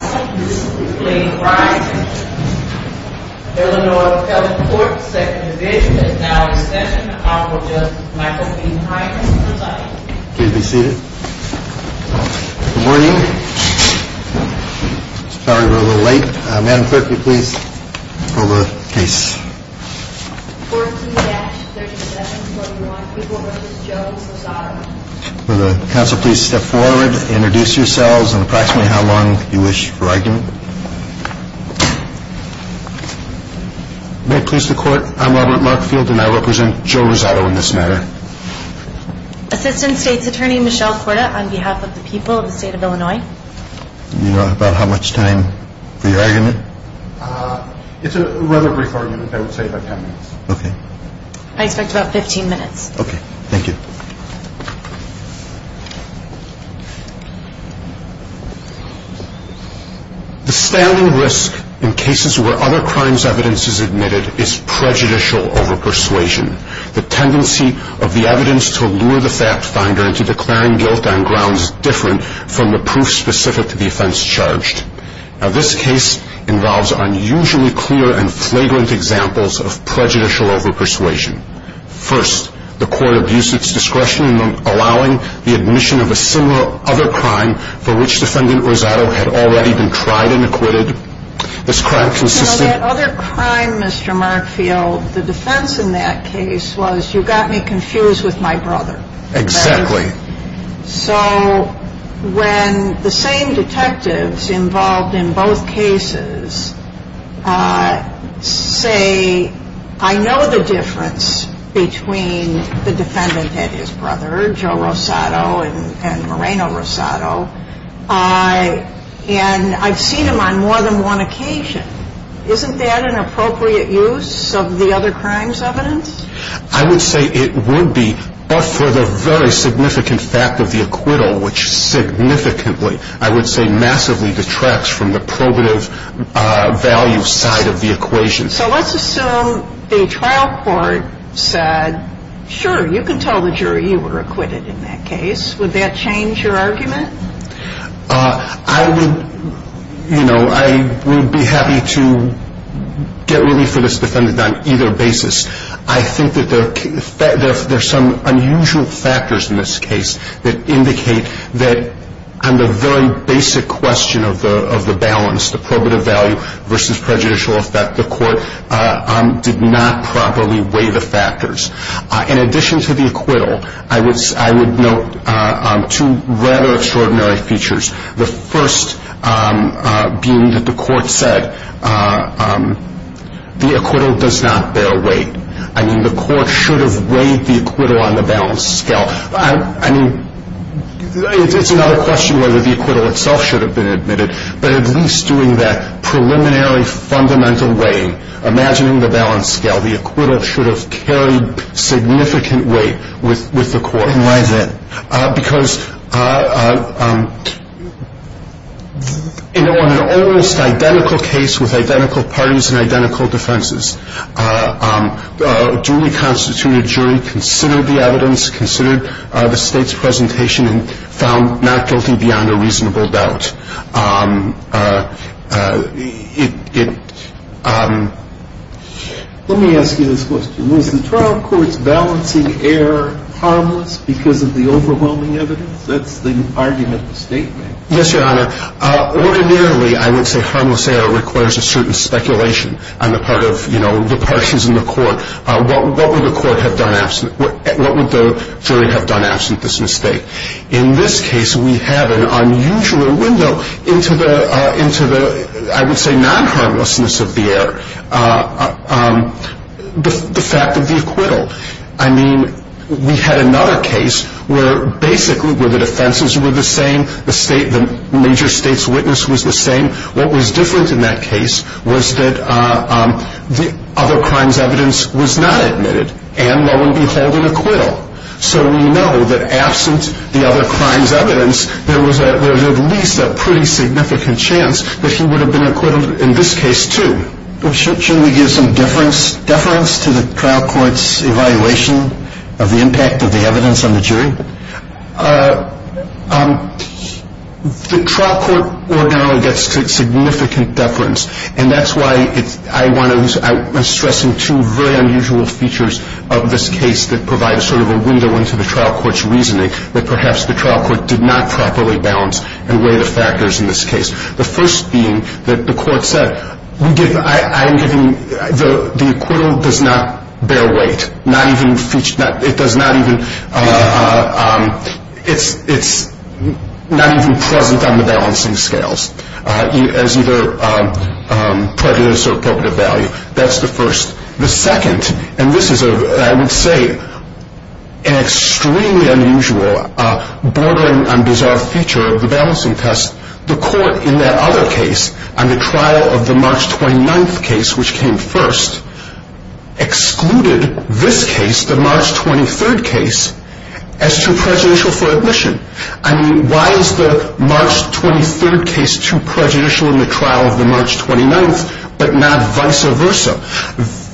Please be seated. Good morning. Sorry we're a little late. Madam Clerk, will you please pull the case? 14-37-21, People v. Jones v. Rosado. Council, please step forward, introduce yourselves and approximately how long you wish for argument. May it please the court, I'm Robert Markfield and I represent Joe Rosado in this matter. Assistant State's Attorney Michelle Korda on behalf of the people of the state of Illinois. Do you know about how much time for your argument? It's a rather brief argument, I would say about 10 minutes. Okay. I expect about 15 minutes. Okay, thank you. The standing risk in cases where other crimes evidence is admitted is prejudicial over persuasion. The tendency of the evidence to lure the fact finder into declaring guilt on grounds different from the proof specific to the offense charged. Now this case involves unusually clear and flagrant examples of prejudicial over persuasion. First, the court abused its discretion in allowing the admission of a similar other crime for which defendant Rosado had already been tried and acquitted. This crime consisted... You know that other crime, Mr. Markfield, the defense in that case was you got me confused with my brother. Exactly. So when the same detectives involved in both cases say, I know the difference between the defendant and his brother, Joe Rosado and Moreno Rosado, and I've seen him on more than one occasion. Isn't that an appropriate use of the other crimes evidence? I would say it would be, but for the very significant fact of the acquittal, which significantly, I would say massively detracts from the probative value side of the equation. So let's assume the trial court said, sure, you can tell the jury you were acquitted in that case. Would that change your argument? I would, you know, I would be happy to get relief for this defendant on either basis. I think that there are some unusual factors in this case that indicate that on the very basic question of the balance, the probative value versus prejudicial effect, the court did not properly weigh the factors. In addition to the acquittal, I would note two rather extraordinary features. The first being that the court said the acquittal does not bear weight. I mean, the court should have weighed the acquittal on the balance scale. I mean, it's another question whether the acquittal itself should have been admitted, but at least doing that preliminary fundamental weighing, imagining the balance scale, the acquittal should have carried significant weight with the court. And why is that? Because, you know, on an almost identical case with identical parties and identical defenses, a duly constituted jury considered the evidence, considered the State's presentation and found not guilty beyond a reasonable doubt. Let me ask you this question. Was the trial court's balancing error harmless because of the overwhelming evidence? That's the argument the State made. Yes, Your Honor. Ordinarily, I would say harmless error requires a certain speculation on the part of, you know, the parties in the court. What would the court have done absent – what would the jury have done absent this mistake? In this case, we have an unusual window into the – I would say non-harmlessness of the error, the fact of the acquittal. I mean, we had another case where basically where the defenses were the same, the State – the major State's witness was the same. What was different in that case was that the other crime's evidence was not admitted, and lo and behold, an acquittal. So we know that absent the other crime's evidence, there was at least a pretty significant chance that he would have been acquitted in this case, too. Should we give some deference to the trial court's evaluation of the impact of the evidence on the jury? The trial court ordinarily gets significant deference, and that's why I want to – I the trial court did not properly balance and weigh the factors in this case. The first being that the court said, we give – I'm giving – the acquittal does not bear weight, not even – it does not even – it's not even present on the balancing scales as either prejudice or appropriate value. That's the first. The second – and this is, I would say, an extremely unusual, bordering on bizarre feature of the balancing test – the court in that other case, on the trial of the March 29th case, which came first, excluded this case, the March 23rd case, as too prejudicial for admission. I mean, why is the March 23rd case too prejudicial in the trial of the March 29th, but not vice versa?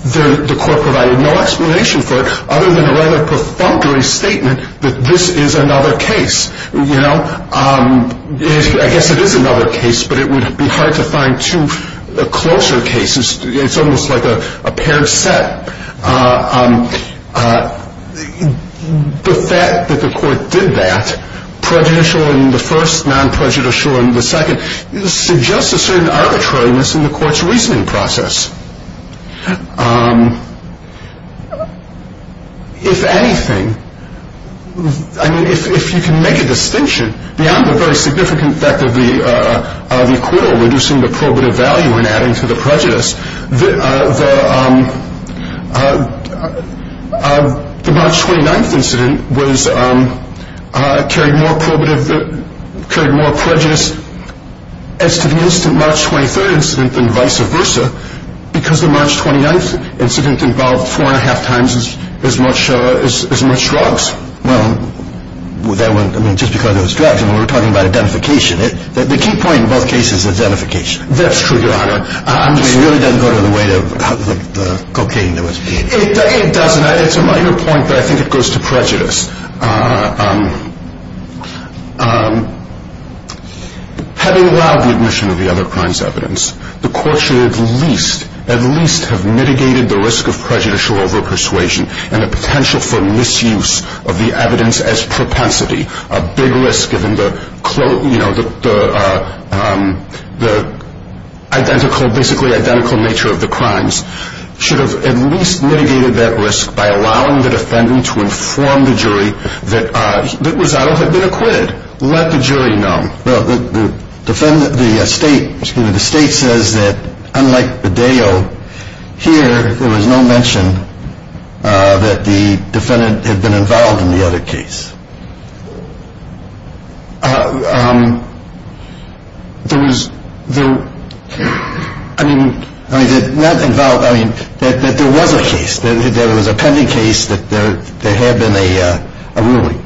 The court provided no explanation for it, other than a rather perfunctory statement that this is another case. You know, I guess it is another case, but it would be hard to find two closer cases. It's almost like a paired set. The fact that the court did that, prejudicial in the first, non-prejudicial in the second, suggests a certain arbitrariness in the court's reasoning process. If anything – I mean, if you can make a distinction beyond the very significant effect of the acquittal reducing the probative value and adding to the prejudice, the March 29th was – carried more probative – carried more prejudice as to the instant March 23rd incident than vice versa, because the March 29th incident involved four and a half times as much – as much drugs. Well, that went – I mean, just because it was drugs, and we're talking about identification. The key point in both cases is identification. That's true, Your Honor. I mean, it really doesn't go to the weight of the cocaine that was – It doesn't. It's a minor point, but I think it goes to prejudice. Having allowed the admission of the other crimes' evidence, the court should at least – at least have mitigated the risk of prejudicial over-persuasion and the potential for misuse of the evidence as propensity. A big risk given the – you know, the identical – basically identical nature of the crimes should have at least mitigated that risk by allowing the defendant to inform the jury that Rosado had been acquitted. Let the jury know. The defendant – the state – excuse me – the state says that, unlike Bedeo, here there was no mention that the defendant had been involved in the other case. There was – I mean, not involved – I mean, that there was a case. There was a pending case that there had been a ruling.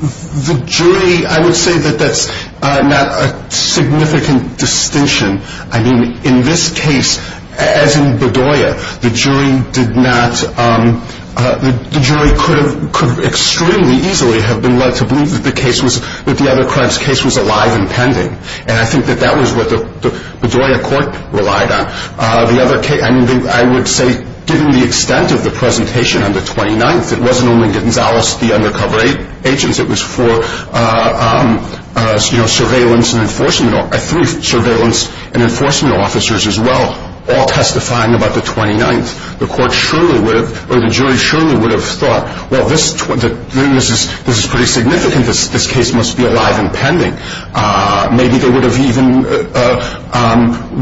The jury – I would say that that's not a significant distinction. I mean, in this case, as in Bedeo, the jury did not – the jury could have – could extremely easily have been led to believe that the case was – that the other crimes' case was alive and pending. And I think that that was what the Bedeo court relied on. The other case – I mean, I would say, given the extent of the presentation on the 29th, it wasn't only Gonzales, the undercover agent. It was four surveillance and enforcement – three surveillance and enforcement officers as well, all testifying about the 29th. The court surely would have – or the jury surely would have thought, well, this is pretty significant. This case must be alive and pending. Maybe they would have even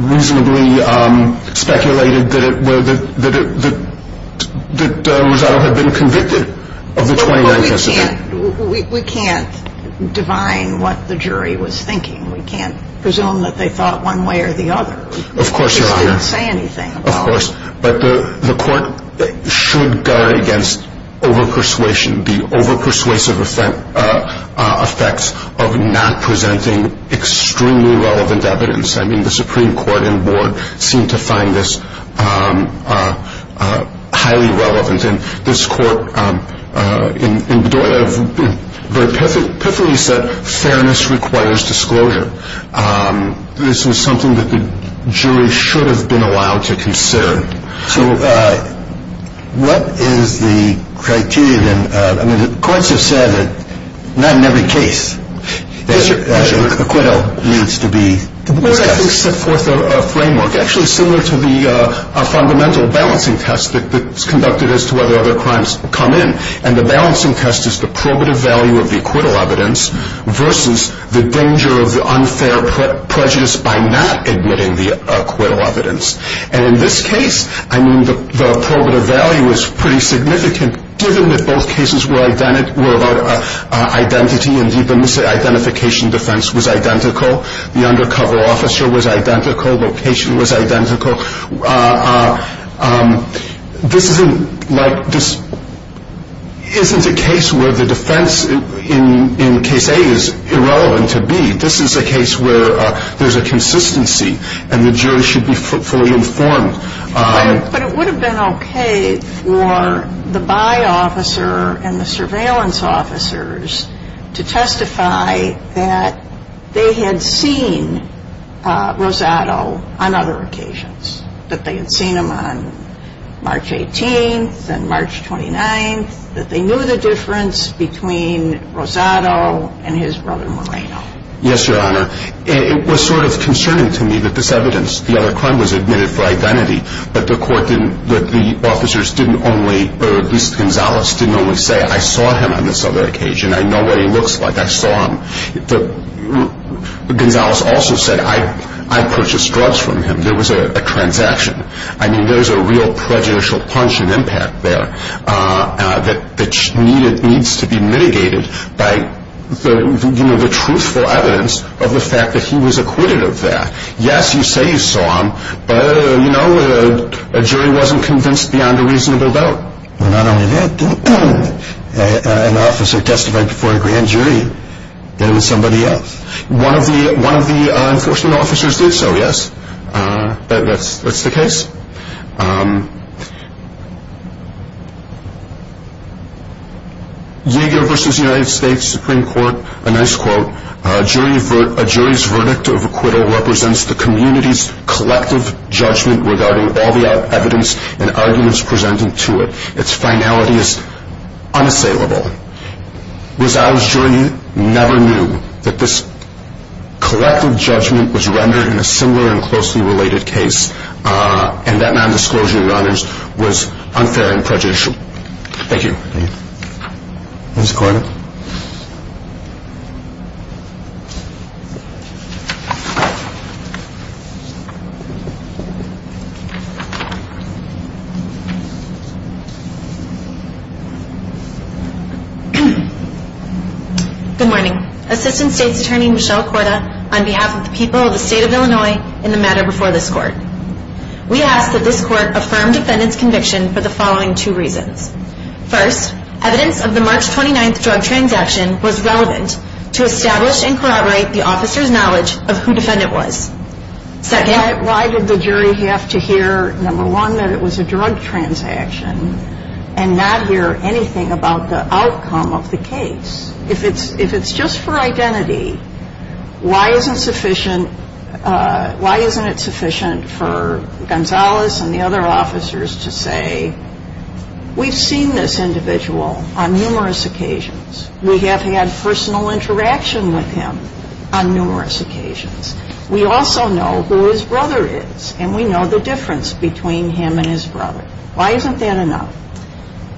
reasonably speculated that Gonzales had been convicted of the 29th incident. But we can't – we can't divine what the jury was thinking. We can't presume that they thought one way or the other. Of course, Your Honor. They just didn't say anything about it. Of course. But the court should guard against over-persuasion, the over-persuasive effects of not presenting extremely relevant evidence. I mean, the Supreme Court and board seem to find this highly relevant. And this court, in Bedeo, very pithily said, fairness requires disclosure. This was something that the jury should have been allowed to consider. So what is the criteria then? I mean, the courts have said that not in every case acquittal needs to be discussed. We're going to have to set forth a framework actually similar to the fundamental balancing test that's conducted as to whether other crimes come in. And the balancing test is the probative value of the acquittal evidence versus the danger of the unfair prejudice by not admitting the acquittal evidence. And in this case, I mean, the probative value is pretty significant, given that both cases were about identity, and the identification defense was identical. The undercover officer was identical. Location was identical. This isn't a case where the defense in case A is irrelevant to B. This is a case where there's a consistency and the jury should be fully informed. But it would have been okay for the by-officer and the surveillance officers to testify that they had seen Rosado on other occasions, that they had seen him on March 18th and March 29th, that they knew the difference between Rosado and his brother Moreno. Yes, Your Honor. It was sort of concerning to me that this evidence, the other crime, was admitted for identity, but the officers didn't only, or at least Gonzales didn't only say, I saw him on this other occasion. I know what he looks like. I saw him. Gonzales also said, I purchased drugs from him. There was a transaction. I mean, there was a real prejudicial punch and impact there that needs to be mitigated by the truthful evidence of the fact that he was acquitted of that. Yes, you say you saw him, but, you know, a jury wasn't convinced beyond a reasonable doubt. Not only that, an officer testified before a grand jury that it was somebody else. One of the enforcement officers did so, yes. That's the case. Yeager v. United States Supreme Court, a nice quote, a jury's verdict of acquittal represents the community's collective judgment regarding all the evidence and arguments presented to it. Its finality is unassailable. Rosado's jury never knew that this collective judgment was rendered in a similar and closely related case, and that non-disclosure of the honors was unfair and prejudicial. Thank you. Ms. Korda. Good morning. Assistant State's Attorney Michelle Korda on behalf of the people of the State of Illinois in the matter before this court. We ask that this court affirm defendant's conviction for the following two reasons. First, evidence of the March 29th drug transaction was relevant to establish and corroborate the officer's knowledge of who defendant was. Second. Why did the jury have to hear, number one, that it was a drug transaction and not hear anything about the outcome of the case? If it's just for identity, why isn't it sufficient for Gonzalez and the other officers to say, we've seen this individual on numerous occasions. We have had personal interaction with him on numerous occasions. We also know who his brother is, and we know the difference between him and his brother. Why isn't that enough?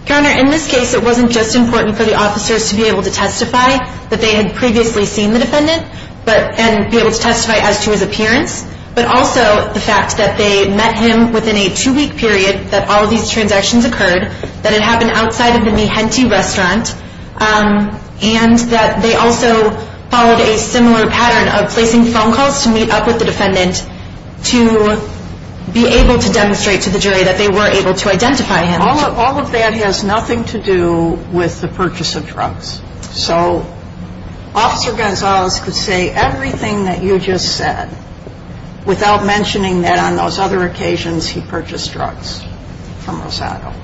Your Honor, in this case, it wasn't just important for the officers to be able to testify that they had previously seen the defendant and be able to testify as to his appearance, but also the fact that they met him within a two-week period that all of these transactions occurred, that it happened outside of the Mi Gente restaurant, and that they also followed a similar pattern of placing phone calls to meet up with the defendant to be able to demonstrate to the jury that they were able to identify him. All of that has nothing to do with the purchase of drugs. So Officer Gonzalez could say everything that you just said without mentioning that on those other occasions he purchased drugs from Rosado.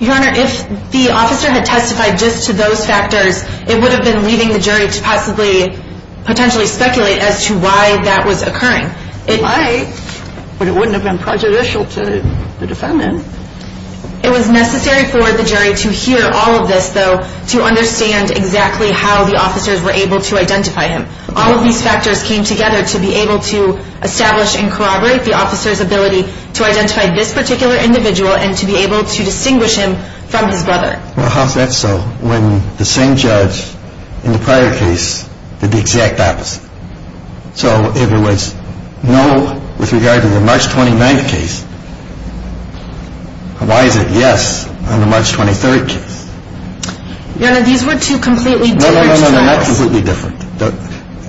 Your Honor, if the officer had testified just to those factors, it would have been leading the jury to possibly, potentially speculate as to why that was occurring. Why? But it wouldn't have been prejudicial to the defendant. It was necessary for the jury to hear all of this, though, to understand exactly how the officers were able to identify him. All of these factors came together to be able to establish and corroborate the officer's ability to identify this particular individual and to be able to distinguish him from his brother. Well, how is that so, when the same judge in the prior case did the exact opposite? So if it was no with regard to the March 29th case, why is it yes on the March 23rd case? Your Honor, these were two completely different trials. No, no, no, no, not completely different.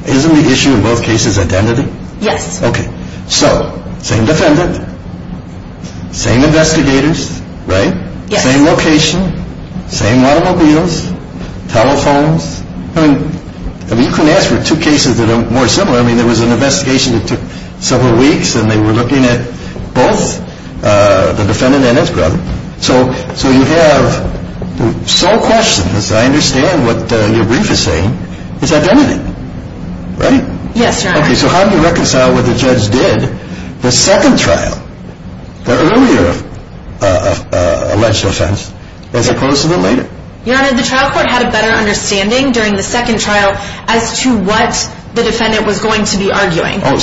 Isn't the issue in both cases identity? Yes. Okay. So, same defendant, same investigators, right? Yes. Same location, same automobiles, telephones. I mean, you can ask for two cases that are more similar. I mean, there was an investigation that took several weeks, and they were looking at both the defendant and his brother. So you have the sole question, as I understand what your brief is saying, is identity, right? Yes, Your Honor. Okay, so how do you reconcile what the judge did? The second trial, the earlier alleged offense, as opposed to the later? Your Honor, the trial court had a better understanding during the second trial as to what the defendant was going to be arguing. Oh,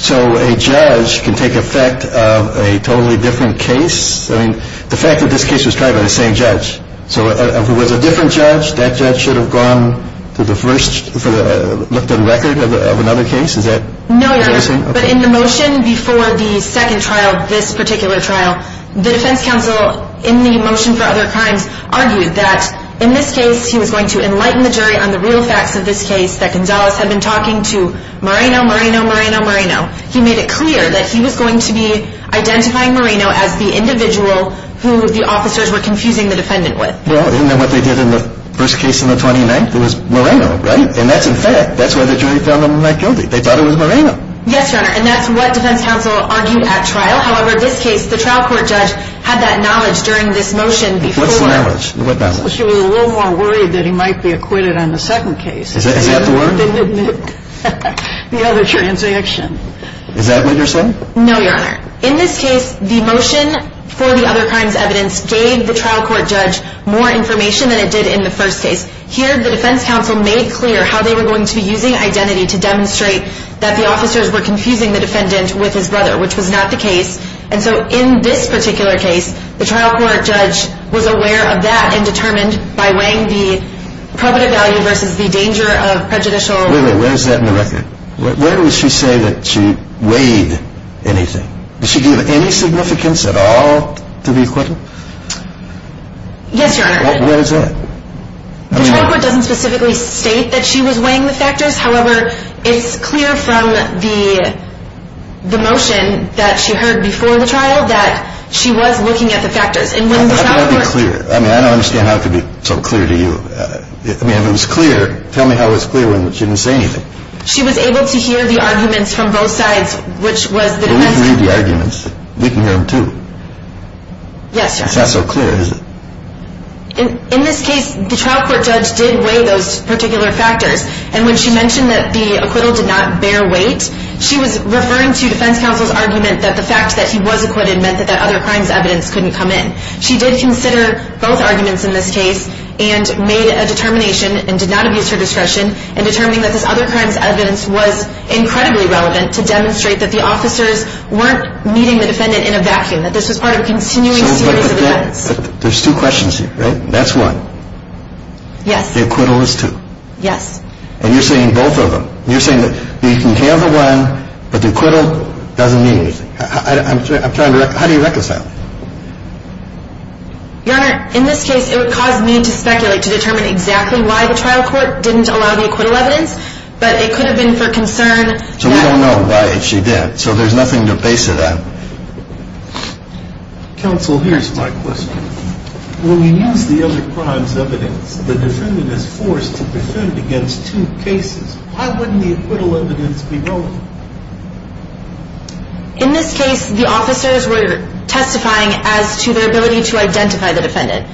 so a judge can take effect of a totally different case? I mean, the fact that this case was tried by the same judge, so if it was a different judge, that judge should have gone to the first, looked at a record of another case? No, Your Honor. But in the motion before the second trial, this particular trial, the defense counsel in the motion for other crimes argued that in this case, he was going to enlighten the jury on the real facts of this case, that Gonzalez had been talking to Moreno, Moreno, Moreno, Moreno. He made it clear that he was going to be identifying Moreno as the individual who the officers were confusing the defendant with. Well, isn't that what they did in the first case on the 29th? It was Moreno, right? And that's in fact, that's why the jury found him not guilty. They thought it was Moreno. Yes, Your Honor, and that's what defense counsel argued at trial. However, this case, the trial court judge had that knowledge during this motion. What's the knowledge? She was a little more worried that he might be acquitted on the second case. Is that the word? The other transaction. Is that what you're saying? No, Your Honor. In this case, the motion for the other crimes evidence gave the trial court judge more information than it did in the first case. Here, the defense counsel made clear how they were going to be using identity to demonstrate that the officers were confusing the defendant with his brother, which was not the case. And so in this particular case, the trial court judge was aware of that and determined by weighing the probative value versus the danger of prejudicial. Wait a minute. Where is that in the record? Where did she say that she weighed anything? Did she give any significance at all to the acquittal? Yes, Your Honor. Where is that? The trial court doesn't specifically state that she was weighing the factors. However, it's clear from the motion that she heard before the trial that she was looking at the factors. How can that be clear? I mean, I don't understand how it could be so clear to you. I mean, if it was clear, tell me how it was clear when she didn't say anything. She was able to hear the arguments from both sides, which was the defense counsel. We can read the arguments. We can hear them too. Yes, Your Honor. It's not so clear, is it? In this case, the trial court judge did weigh those particular factors, and when she mentioned that the acquittal did not bear weight, she was referring to defense counsel's argument that the fact that he was acquitted meant that that other crimes evidence couldn't come in. She did consider both arguments in this case and made a determination and did not abuse her discretion in determining that this other crimes evidence was incredibly relevant to demonstrate that the officers weren't meeting the defendant in a vacuum, that this was part of a continuing series of events. But there's two questions here, right? That's one. Yes. The acquittal is two. Yes. And you're saying both of them. You're saying that you can have the one, but the acquittal doesn't mean anything. How do you reconcile that? Your Honor, in this case, it would cause me to speculate to determine exactly why the trial court didn't allow the acquittal evidence, but it could have been for concern. So we don't know why she did. So there's nothing to base it on. Counsel, here's my question. When we use the other crimes evidence, the defendant is forced to defend against two cases. Why wouldn't the acquittal evidence be relevant? In this case, the officers were testifying as to their ability to identify the defendant.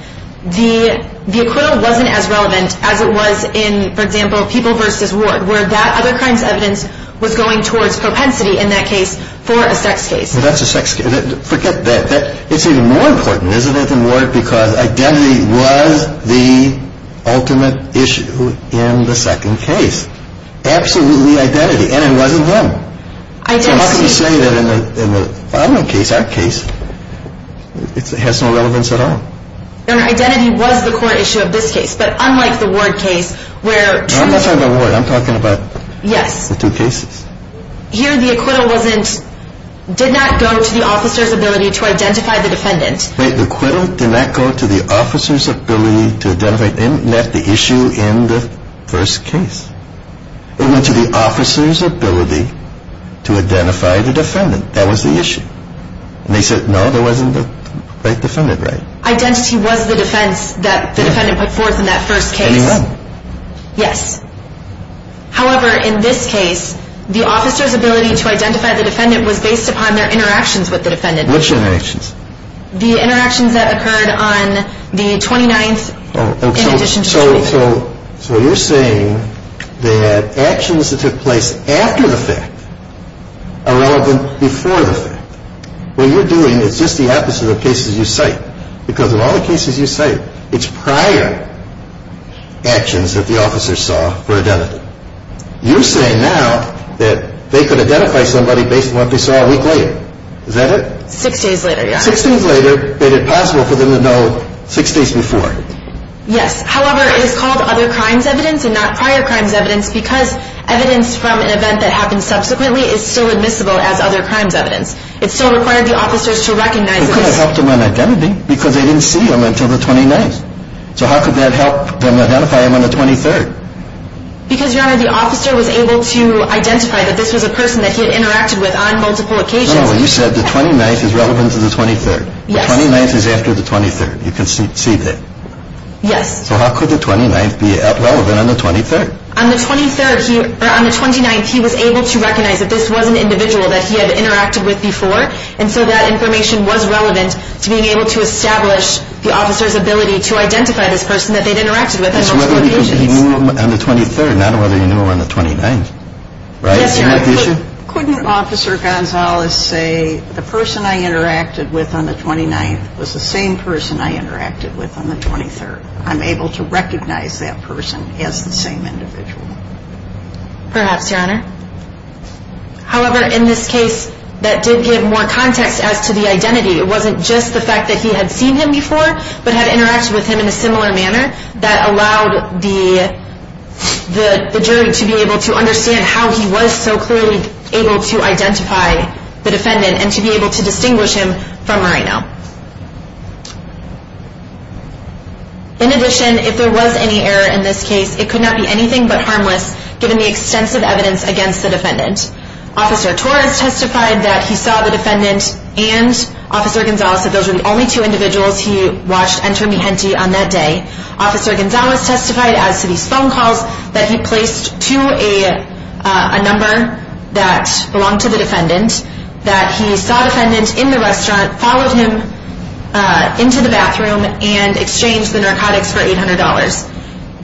The acquittal wasn't as relevant as it was in, for example, People v. Ward, where that other crimes evidence was going towards propensity in that case for a sex case. That's a sex case. Forget that. It's even more important, isn't it, than Ward, because identity was the ultimate issue in the second case. Absolutely identity. And it wasn't him. So how can you say that in the final case, our case, it has no relevance at all? Your Honor, identity was the core issue of this case. But unlike the Ward case, where two cases. I'm not talking about Ward. I'm talking about the two cases. Here, the acquittal did not go to the officer's ability to identify the defendant. The acquittal did not go to the officer's ability to identify the issue in the first case. It went to the officer's ability to identify the defendant. That was the issue. And they said, no, there wasn't the right defendant, right? Identity was the defense that the defendant put forth in that first case. Yes. However, in this case, the officer's ability to identify the defendant was based upon their interactions with the defendant. Which interactions? The interactions that occurred on the 29th in addition to the 28th. So you're saying that actions that took place after the fact are relevant before the fact. What you're doing is just the opposite of cases you cite, because of all the cases you cite, it's prior actions that the officer saw for identity. You're saying now that they could identify somebody based on what they saw a week later. Is that it? Six days later, yes. Six days later made it possible for them to know six days before. Yes. However, it is called other crimes evidence and not prior crimes evidence because evidence from an event that happened subsequently is still admissible as other crimes evidence. It still required the officers to recognize this. How could it help them on identity? Because they didn't see him until the 29th. So how could that help them identify him on the 23rd? Because, Your Honor, the officer was able to identify that this was a person that he had interacted with on multiple occasions. No, no. You said the 29th is relevant to the 23rd. Yes. The 29th is after the 23rd. You can see that. Yes. So how could the 29th be relevant on the 23rd? On the 29th, he was able to recognize that this was an individual that he had interacted with before, and so that information was relevant to being able to establish the officer's ability to identify this person that they'd interacted with on multiple occasions. It's whether he knew him on the 23rd, not whether he knew him on the 29th. Right? Yes, Your Honor. Isn't that the issue? Couldn't Officer Gonzalez say the person I interacted with on the 29th was the same person I interacted with on the 23rd? I'm able to recognize that person as the same individual. Perhaps, Your Honor. However, in this case, that did give more context as to the identity. It wasn't just the fact that he had seen him before but had interacted with him in a similar manner that allowed the jury to be able to understand how he was so clearly able to identify the defendant and to be able to distinguish him from Moreno. In addition, if there was any error in this case, it could not be anything but harmless given the extensive evidence against the defendant. Officer Torres testified that he saw the defendant and Officer Gonzalez said those were the only two individuals he watched enter Mijente on that day. Officer Gonzalez testified as to these phone calls that he placed to a number that belonged to the defendant, that he saw the defendant in the restaurant, followed him into the bathroom, and exchanged the narcotics for $800.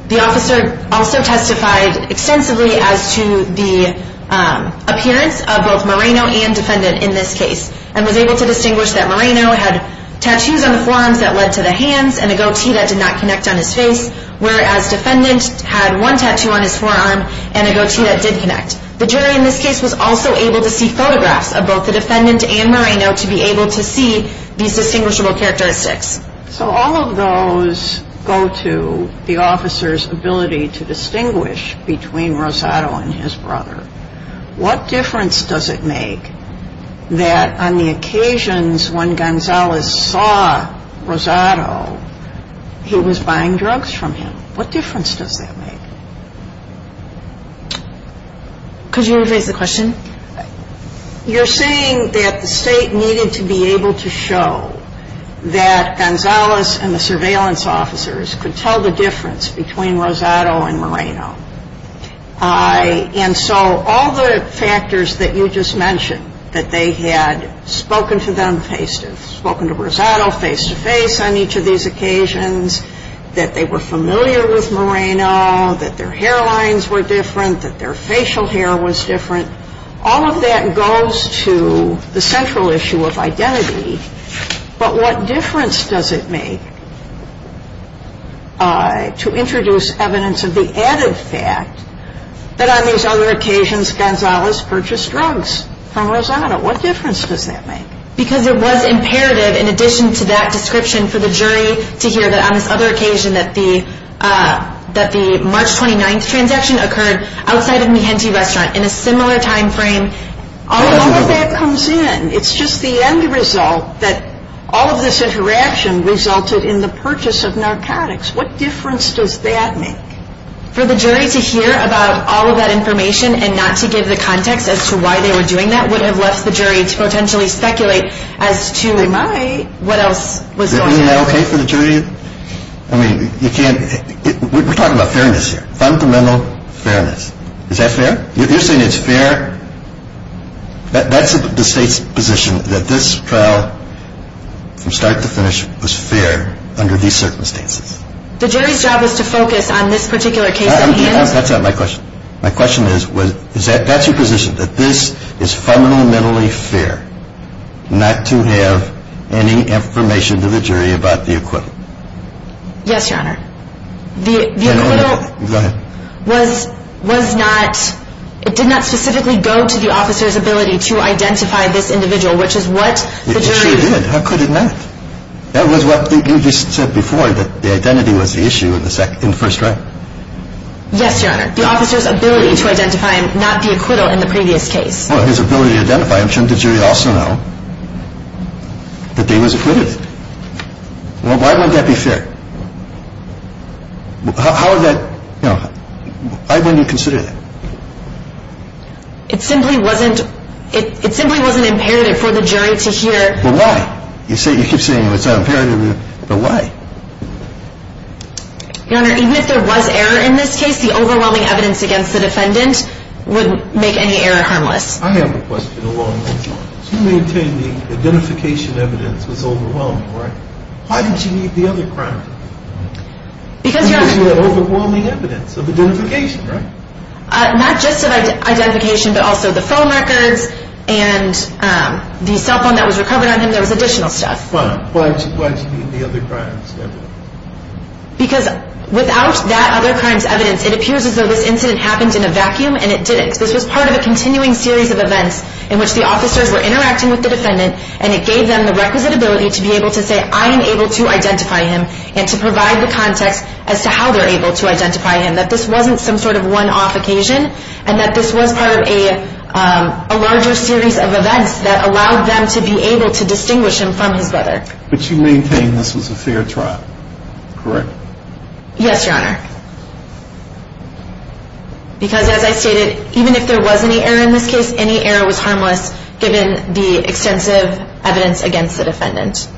The officer also testified extensively as to the appearance of both Moreno and defendant in this case and was able to distinguish that Moreno had tattoos on the forearms that led to the hands and a goatee that did not connect on his face, whereas defendant had one tattoo on his forearm and a goatee that did connect. The jury in this case was also able to see photographs of both the defendant and Moreno to be able to see these distinguishable characteristics. So all of those go to the officer's ability to distinguish between Rosado and his brother. What difference does it make that on the occasions when Gonzalez saw Rosado, he was buying drugs from him? What difference does that make? Could you rephrase the question? You're saying that the state needed to be able to show that Gonzalez and the surveillance officers could tell the difference between Rosado and Moreno. And so all the factors that you just mentioned, that they had spoken to them face-to-face, spoken to Rosado face-to-face on each of these occasions, that they were familiar with Moreno, that their hairlines were different, that their facial hair was different, all of that goes to the central issue of identity. But what difference does it make to introduce evidence of the added fact that on these other occasions Gonzalez purchased drugs from Rosado? What difference does that make? Because it was imperative in addition to that description for the jury to hear that on this other occasion that the March 29th transaction occurred outside of Mijente Restaurant in a similar time frame. All of that comes in. It's just the end result that all of this interaction resulted in the purchase of narcotics. What difference does that make? For the jury to hear about all of that information and not to give the context as to why they were doing that would have left the jury to potentially speculate as to what else was going on. Is that okay for the jury? We're talking about fairness here. Fundamental fairness. Is that fair? You're saying it's fair? That's the state's position, that this trial from start to finish was fair under these circumstances. The jury's job was to focus on this particular case. That's not my question. My question is, that's your position, that this is fundamentally fair not to have any information to the jury about the acquittal? Yes, Your Honor. The acquittal was not, it did not specifically go to the officer's ability to identify this individual, which is what the jury... It sure did. How could it not? That was what you just said before, that the identity was the issue in the first trial. Yes, Your Honor. The officer's ability to identify him, not the acquittal in the previous case. Well, his ability to identify him. Shouldn't the jury also know that he was acquitted? Why wouldn't that be fair? How would that... Why wouldn't you consider that? It simply wasn't imperative for the jury to hear... Well, why? You keep saying it's not imperative, but why? Your Honor, even if there was error in this case, the overwhelming evidence against the defendant would make any error harmless. I have a question along those lines. You maintain the identification evidence was overwhelming, right? Why didn't you need the other crime evidence? Because Your Honor... Because you had overwhelming evidence of identification, right? Not just of identification, but also the phone records and the cell phone that was recovered on him. There was additional stuff. Fine. Why didn't you need the other crimes evidence? Because without that other crimes evidence, it appears as though this incident happened in a vacuum and it didn't. This was part of a continuing series of events in which the officers were interacting with the defendant and it gave them the requisite ability to be able to say, I am able to identify him and to provide the context as to how they're able to identify him, that this wasn't some sort of one-off occasion and that this was part of a larger series of events that allowed them to be able to distinguish him from his brother. But you maintain this was a fair trial, correct? Yes, Your Honor. Because as I stated, even if there was any error in this case, any error was harmless given the extensive evidence against the defendant.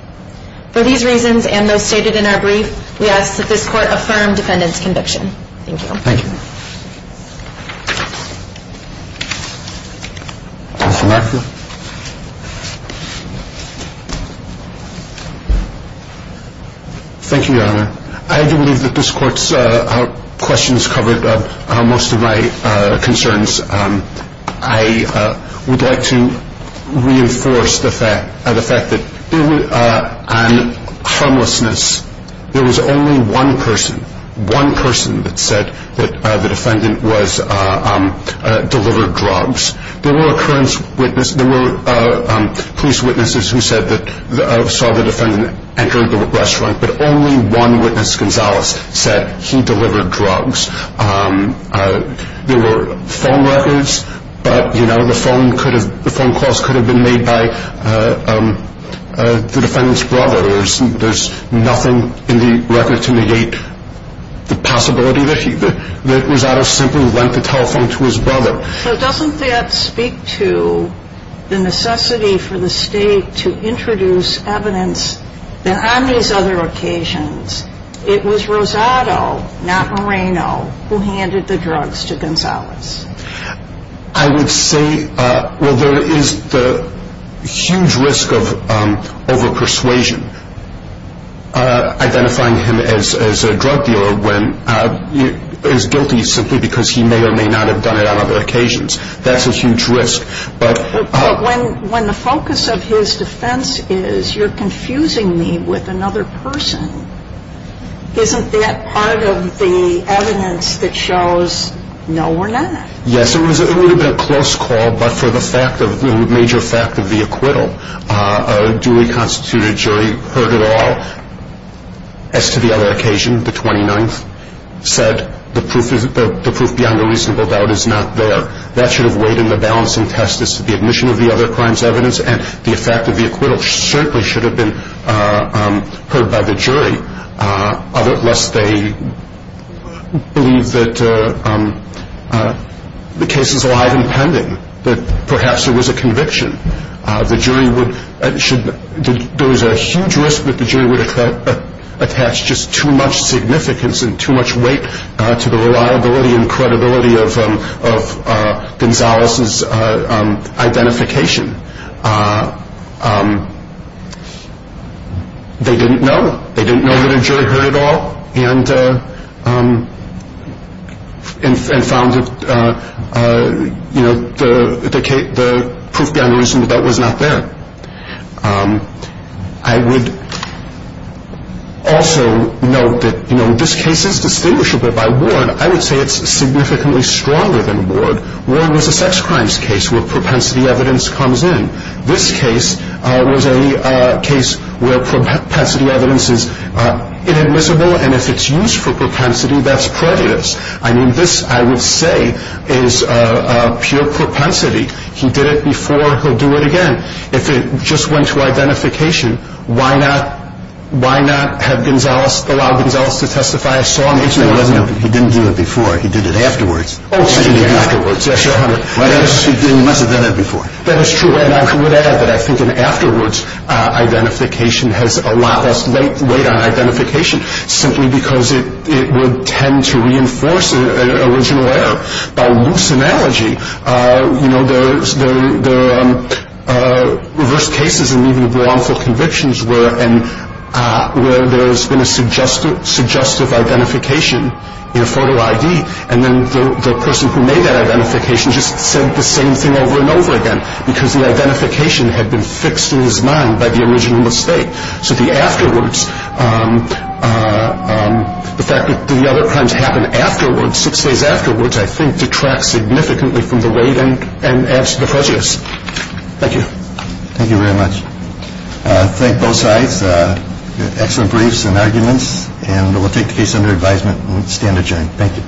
For these reasons and those stated in our brief, we ask that this court affirm defendant's conviction. Thank you. Thank you. Thank you, Your Honor. I do believe that this court's questions covered most of my concerns. I would like to reinforce the fact that on harmlessness, there was only one person, one person that said that the defendant delivered drugs. There were police witnesses who said that saw the defendant enter the restaurant, but only one witness, Gonzalez, said he delivered drugs. There were phone records, but the phone calls could have been made by the defendant's brother. There's nothing in the record to negate the possibility that Rosado simply lent the telephone to his brother. So doesn't that speak to the necessity for the state to introduce evidence that on these other occasions, it was Rosado, not Moreno, who handed the drugs to Gonzalez? I would say, well, there is the huge risk of over-persuasion, identifying him as a drug dealer when he is guilty simply because he may or may not have done it on other occasions. That's a huge risk. But when the focus of his defense is, you're confusing me with another person, isn't that part of the evidence that shows, no, we're not? Yes, it would have been a close call, but for the major fact of the acquittal, a duly constituted jury heard it all. As to the other occasion, the 29th said, the proof beyond a reasonable doubt is not there. That should have weighed in the balancing test as to the admission of the other crime's evidence, and the effect of the acquittal certainly should have been heard by the jury, unless they believe that the case is alive and pending, that perhaps there was a conviction. There was a huge risk that the jury would attach just too much significance and too much weight to the reliability and credibility of Gonzalez's identification. They didn't know. They didn't know that a jury heard it all and found the proof beyond a reasonable doubt was not there. I would also note that this case is distinguishable by Ward. I would say it's significantly stronger than Ward. Ward was a sex crimes case where propensity evidence comes in. This case was a case where propensity evidence is inadmissible, and if it's used for propensity, that's prejudice. This, I would say, is pure propensity. He did it before, he'll do it again. If it just went to identification, why not allow Gonzalez to testify? He didn't do it before, he did it afterwards. Oh, he did it afterwards. He must have done it before. That is true, and I would add that I think an afterwards identification has a lot less weight on identification, simply because it would tend to reinforce an original error. By loose analogy, there are reverse cases and even wrongful convictions where there's been a suggestive identification in a photo ID, and then the person who made that identification just said the same thing over and over again, because the identification had been fixed in his mind by the original mistake. So the afterwards, the fact that the other crimes happen six days afterwards, I think detracts significantly from the weight and adds to the prejudice. Thank you. Thank you very much. Thank both sides. Excellent briefs and arguments, and we'll take the case under advisement and stand adjourned. Thank you.